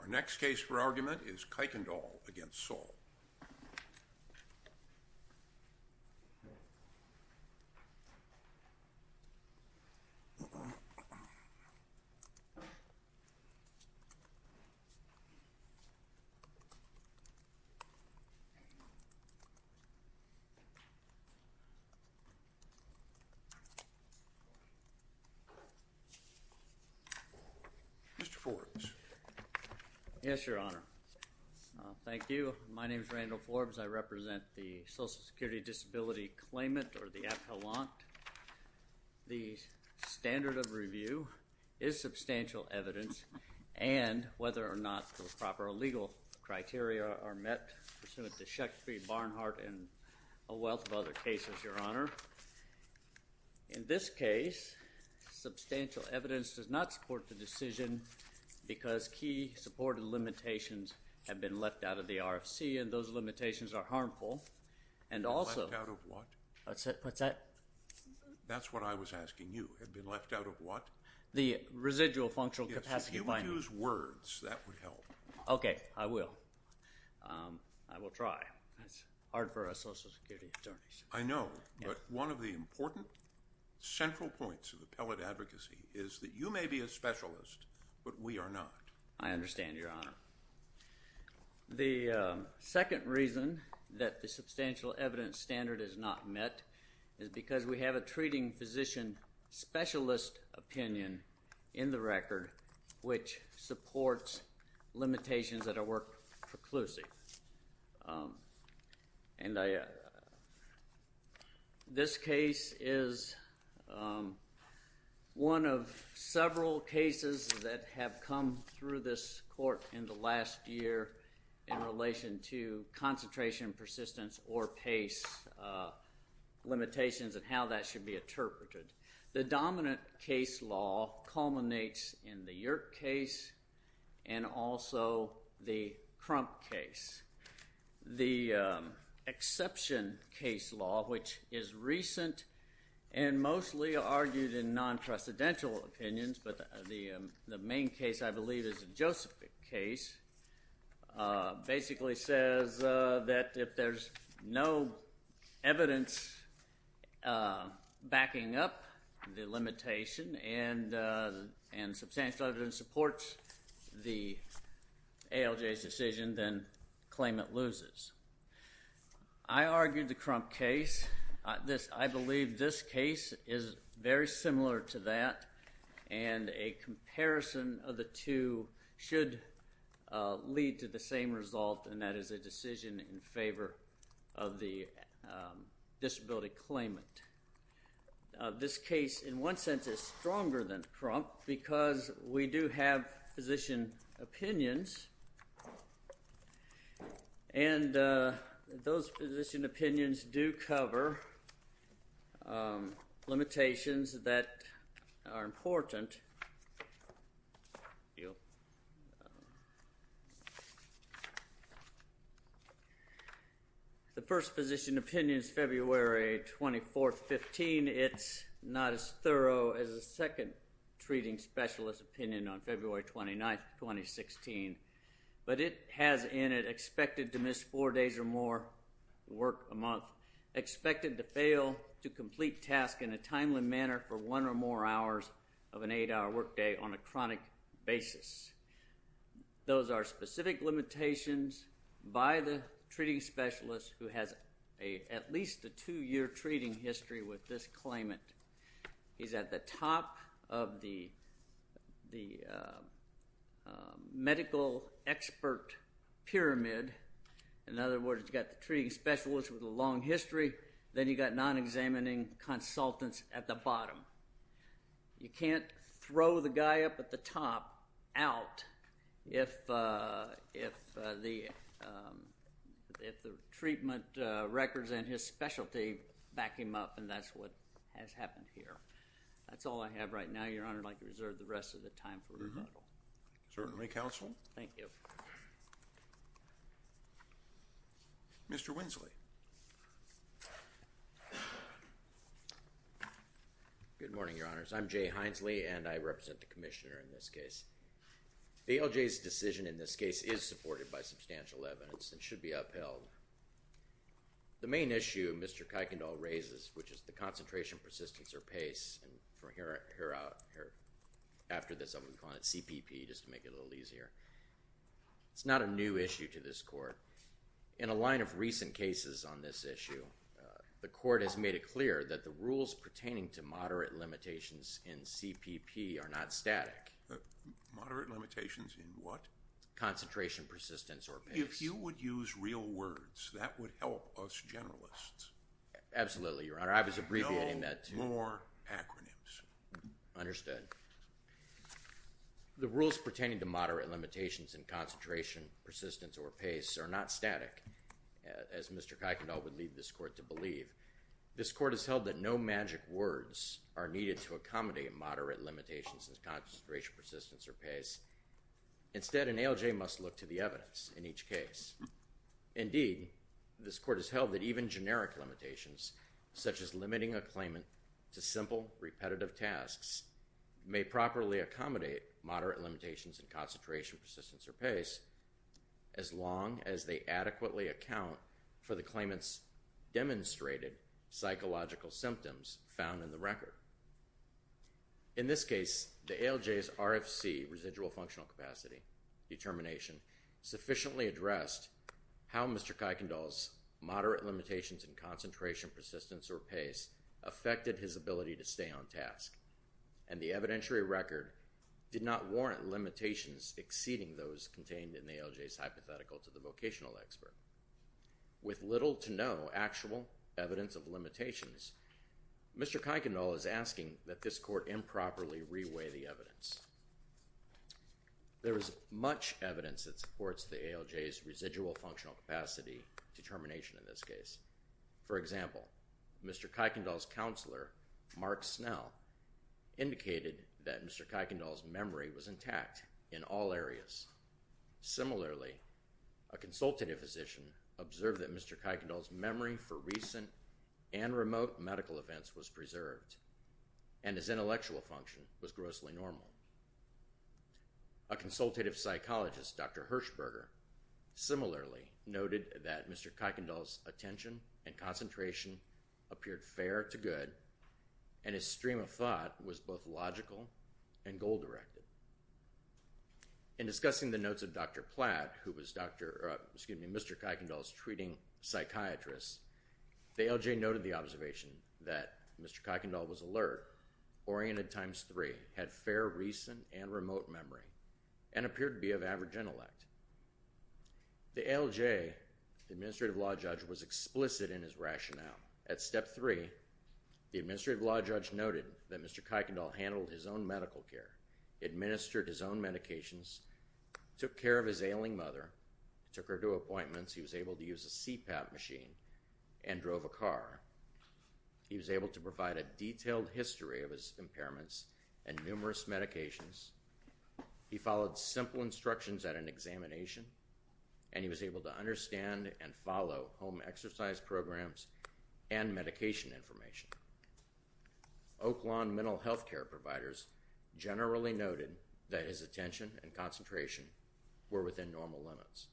Our next case for argument is Kuykendoll v. Saul. Mr. Forbes. Yes, Your Honor. Thank you. My name is Randall Forbes. I represent the Social Security Disability Claimant, or the Appellant. The standard of review is substantial evidence, and whether or not the proper legal criteria are met pursuant to Shakespeare, Barnhart, and a wealth of other cases, Your Honor. However, in this case, substantial evidence does not support the decision because key supported limitations have been left out of the RFC, and those limitations are harmful. And also- Left out of what? What's that? That's what I was asking you. Have been left out of what? The residual functional capacity binding. Yes, if you would use words, that would help. Okay. I will. I will try. It's hard for us Social Security attorneys. I know, but one of the important, central points of appellate advocacy is that you may be a specialist, but we are not. I understand, Your Honor. The second reason that the substantial evidence standard is not met is because we have a treating physician specialist opinion in the record which supports limitations that are work preclusive. And this case is one of several cases that have come through this court in the last year in relation to concentration, persistence, or pace limitations and how that should be interpreted. The dominant case law culminates in the Yerk case and also the Crump case. The exception case law, which is recent and mostly argued in non-precedential opinions, but the main case, I believe, is the Joseph case, basically says that if there's no evidence backing up the limitation and substantial evidence supports the ALJ's decision, then claim it loses. I argued the Crump case. I believe this case is very similar to that and a comparison of the two should lead to the same result and that is a decision in favor of the disability claimant. This case, in one sense, is stronger than Crump because we do have physician opinions and those physician opinions do cover limitations that are important. The first physician opinion is February 24, 2015. It's not as thorough as the second treating specialist opinion on February 29, 2016, but it has in it expected to miss four days or more work a month, expected to fail to complete task in a timely manner for one or more hours of an eight-hour workday on a chronic basis. Those are specific limitations by the treating specialist who has at least a two-year treating history with this claimant. He's at the top of the medical expert pyramid, in other words, you've got the treating specialist with a long history, then you've got non-examining consultants at the bottom. You can't throw the guy up at the top out if the treatment records and his specialty back him up and that's what has happened here. That's all I have right now, Your Honor. I'd like to reserve the rest of the time for rebuttal. Certainly, Counsel. Thank you. Mr. Winsley. Good morning, Your Honors. I'm Jay Hinesley and I represent the Commissioner in this case. ALJ's decision in this case is supported by substantial evidence and should be upheld. The main issue Mr. Kuykendall raises, which is the concentration, persistence, or pace, and after this I'm going to call it CPP just to make it a little easier. It's not a new issue to this court. In a line of recent cases on this issue, the court has made it clear that the rules pertaining to moderate limitations in CPP are not static. Moderate limitations in what? Concentration, persistence, or pace. If you would use real words, that would help us generalists. Absolutely, Your Honor. I was abbreviating that. No more acronyms. Understood. The rules pertaining to moderate limitations in concentration, persistence, or pace are not static, as Mr. Kuykendall would lead this court to believe. This court has held that no magic words are needed to accommodate moderate limitations in concentration, persistence, or pace. Instead, an ALJ must look to the evidence in each case. Indeed, this court has held that even generic limitations, such as limiting a claimant to repetitive tasks, may properly accommodate moderate limitations in concentration, persistence, or pace as long as they adequately account for the claimant's demonstrated psychological symptoms found in the record. In this case, the ALJ's RFC, residual functional capacity, determination, sufficiently addressed how Mr. Kuykendall's moderate limitations in concentration, persistence, or pace affected his ability to stay on task, and the evidentiary record did not warrant limitations exceeding those contained in the ALJ's hypothetical to the vocational expert. With little to no actual evidence of limitations, Mr. Kuykendall is asking that this court improperly reweigh the evidence. There is much evidence that supports the ALJ's residual functional capacity determination in this case. For example, Mr. Kuykendall's counselor, Mark Snell, indicated that Mr. Kuykendall's memory was intact in all areas. Similarly, a consultative physician observed that Mr. Kuykendall's memory for recent and remote medical events was preserved, and his intellectual function was grossly normal. A consultative psychologist, Dr. Hirschberger, similarly noted that Mr. Kuykendall's attention and concentration appeared fair to good, and his stream of thought was both logical and goal-directed. In discussing the notes of Dr. Platt, who was Mr. Kuykendall's treating psychiatrist, the ALJ noted the observation that Mr. Kuykendall was alert, oriented times three, had fair recent and remote memory, and appeared to be of average intellect. The ALJ, the Administrative Law Judge, was explicit in his rationale. At step three, the Administrative Law Judge noted that Mr. Kuykendall handled his own medical care, administered his own medications, took care of his ailing mother, took her to appointments, he was able to use a CPAP machine, and drove a car. He was able to provide a detailed history of his impairments and numerous medications. He followed simple instructions at an examination, and he was able to understand and follow home exercise programs and medication information. Oakland mental health care providers generally noted that his attention and concentration were within normal limits.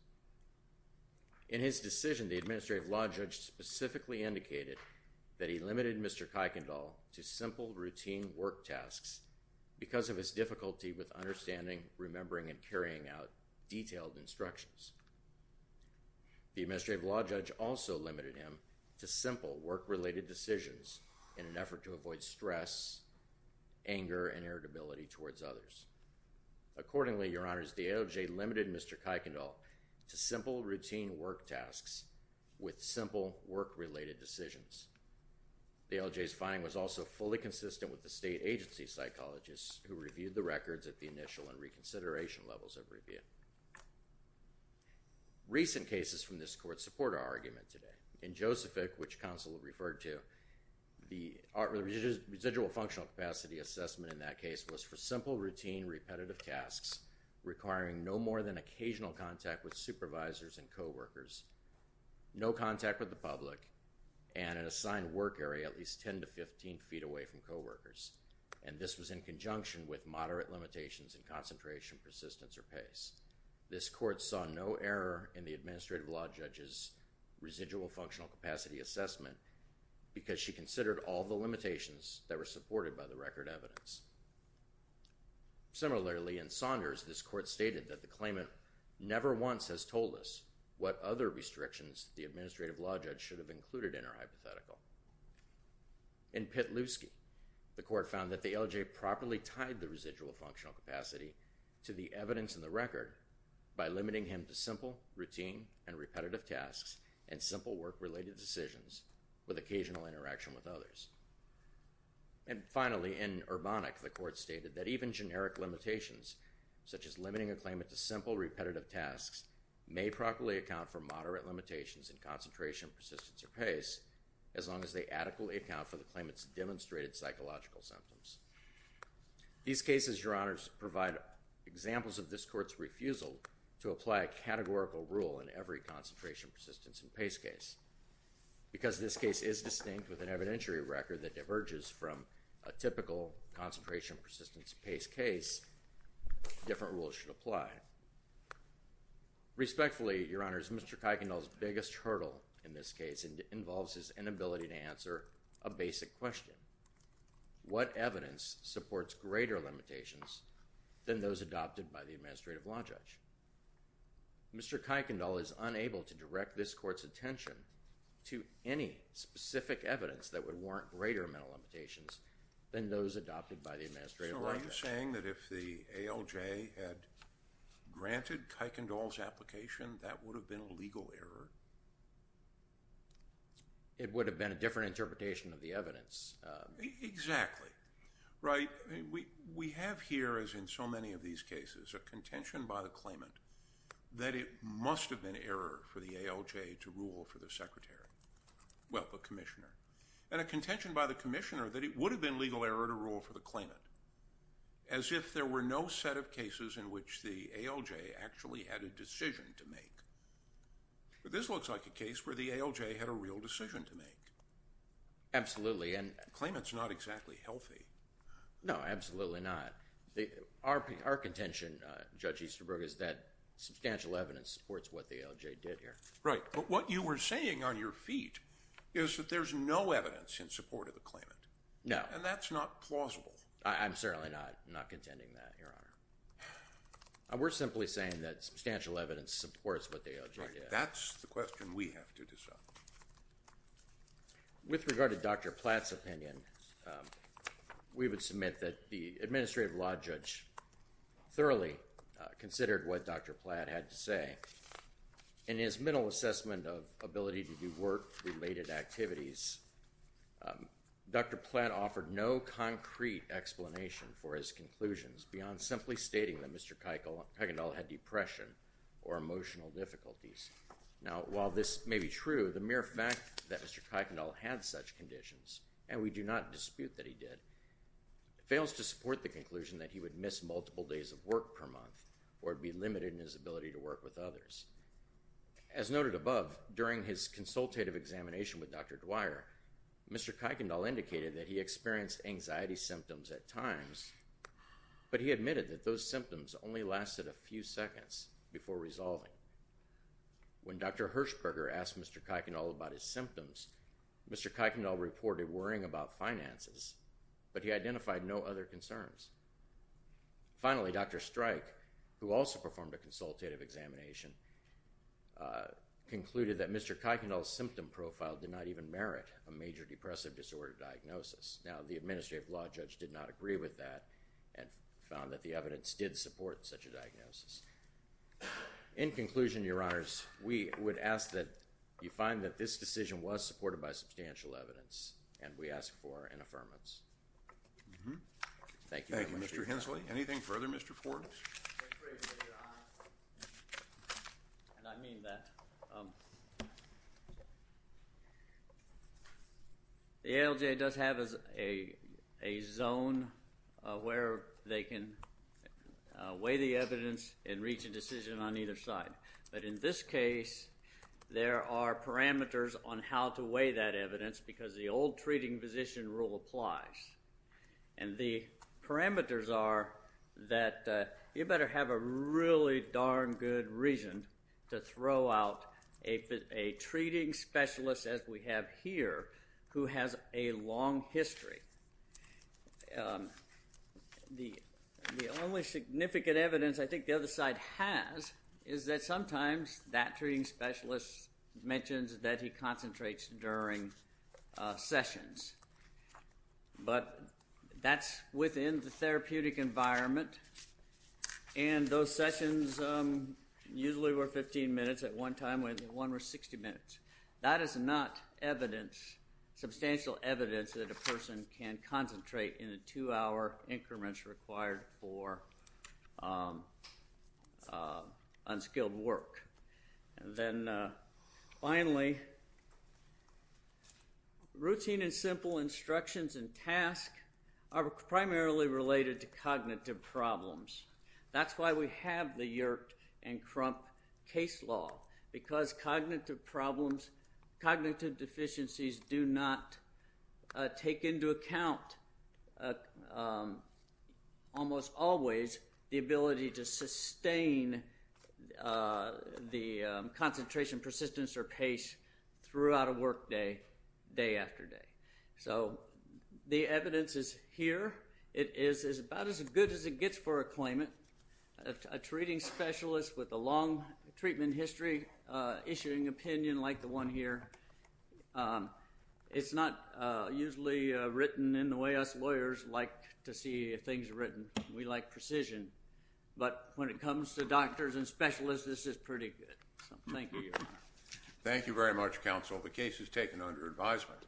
In his decision, the Administrative Law Judge specifically indicated that he limited Mr. Kuykendall's difficulty with understanding, remembering, and carrying out detailed instructions. The Administrative Law Judge also limited him to simple work-related decisions in an effort to avoid stress, anger, and irritability towards others. Accordingly, Your Honors, the ALJ limited Mr. Kuykendall to simple routine work tasks with simple work-related decisions. The ALJ's finding was also fully consistent with the state agency psychologist who reviewed the records at the initial and reconsideration levels of review. Recent cases from this court support our argument today. In Josephic, which counsel referred to, the residual functional capacity assessment in that case was for simple routine repetitive tasks requiring no more than occasional contact with supervisors and coworkers, no contact with the public, and an assigned work area at least 10 to 15 feet away from coworkers. And this was in conjunction with moderate limitations in concentration, persistence, or pace. This court saw no error in the Administrative Law Judge's residual functional capacity assessment because she considered all the limitations that were supported by the record evidence. Similarly, in Saunders, this court stated that the claimant never once has told us what other restrictions the Administrative Law Judge should have included in her hypothetical. In Pitlewski, the court found that the ALJ properly tied the residual functional capacity to the evidence in the record by limiting him to simple routine and repetitive tasks and simple work-related decisions with occasional interaction with others. And finally, in Urbanic, the court stated that even generic limitations, such as limiting a claimant to simple repetitive tasks, may properly account for moderate limitations in concentration, persistence, or pace as long as they adequately account for the claimant's demonstrated psychological symptoms. These cases, Your Honors, provide examples of this court's refusal to apply a categorical rule in every concentration, persistence, and pace case. Because this case is distinct with an evidentiary record that diverges from a typical concentration, persistence, and pace case, different rules should apply. Respectfully, Your Honors, Mr. Kuykendall's biggest hurdle in this case involves his inability to answer a basic question. What evidence supports greater limitations than those adopted by the Administrative Law Judge? Mr. Kuykendall is unable to direct this court's attention to any specific evidence that would warrant greater mental limitations than those adopted by the Administrative Law Judge. So are you saying that if the ALJ had granted Kuykendall's application, that would have been a legal error? It would have been a different interpretation of the evidence. Exactly. Right? We have here, as in so many of these cases, a contention by the claimant that it must have been an error for the ALJ to rule for the Secretary. Well, the Commissioner. And a contention by the Commissioner that it would have been legal error to rule for the claimant. As if there were no set of cases in which the ALJ actually had a decision to make. But this looks like a case where the ALJ had a real decision to make. Absolutely. The claimant's not exactly healthy. No, absolutely not. Our contention, Judge Easterbrook, is that substantial evidence supports what the ALJ did here. Right. But what you were saying on your feet is that there's no evidence in support of the claimant. No. And that's not plausible. I'm certainly not contending that, Your Honor. We're simply saying that substantial evidence supports what the ALJ did. Right. That's the question we have to discuss. With regard to Dr. Platt's opinion, we would submit that the Administrative Law Judge thoroughly considered what Dr. Platt had to say. In his mental assessment of ability to do work-related activities, Dr. Platt offered no concrete explanation for his conclusions beyond simply stating that Mr. Kuykendall had depression or emotional difficulties. Now, while this may be true, the mere fact that Mr. Kuykendall had such conditions, and we do not dispute that he did, fails to support the conclusion that he would miss multiple days of work per month or be limited in his ability to work with others. As noted above, during his consultative examination with Dr. Dwyer, Mr. Kuykendall indicated that he experienced anxiety symptoms at times, but he admitted that those symptoms only lasted a few seconds before resolving. When Dr. Hirschberger asked Mr. Kuykendall about his symptoms, Mr. Kuykendall reported worrying about finances, but he identified no other concerns. Finally, Dr. Streich, who also performed a consultative examination, concluded that Mr. Kuykendall's symptom profile did not even merit a major depressive disorder diagnosis. Now, the Administrative Law Judge did not agree with that and found that the evidence did support such a diagnosis. In conclusion, Your Honors, we would ask that you find that this decision was supported by substantial evidence, and we ask for an affirmance. Thank you very much, Your Honor. Thank you, Mr. Hensley. Anything further, Mr. Forbes? Thank you very much, Your Honor. And I mean that. The ALJ does have a zone where they can weigh the evidence and reach a decision on either side. But in this case, there are parameters on how to weigh that evidence because the old treating physician rule applies. And the parameters are that you better have a really darn good reason to throw out a treating specialist, as we have here, who has a long history. The only significant evidence I think the other side has is that sometimes that treating specialist mentions that he concentrates during sessions. But that's within the therapeutic environment. And those sessions usually were 15 minutes at one time, and one were 60 minutes. That is not evidence, substantial evidence, that a person can concentrate in the two-hour increments required for unskilled work. And then finally, routine and simple instructions and tasks are primarily related to cognitive problems. That's why we have the Yerke and Crump case law. Because cognitive problems, cognitive deficiencies do not take into account almost always the ability to sustain the concentration, persistence, or pace throughout a work day, day after day. So the evidence is here. It is about as good as it gets for a claimant. A treating specialist with a long treatment history issuing opinion, like the one here, it's not usually written in the way us lawyers like to see things written. We like precision. But when it comes to doctors and specialists, this is pretty good. Thank you very much, counsel. The case is taken under advisement.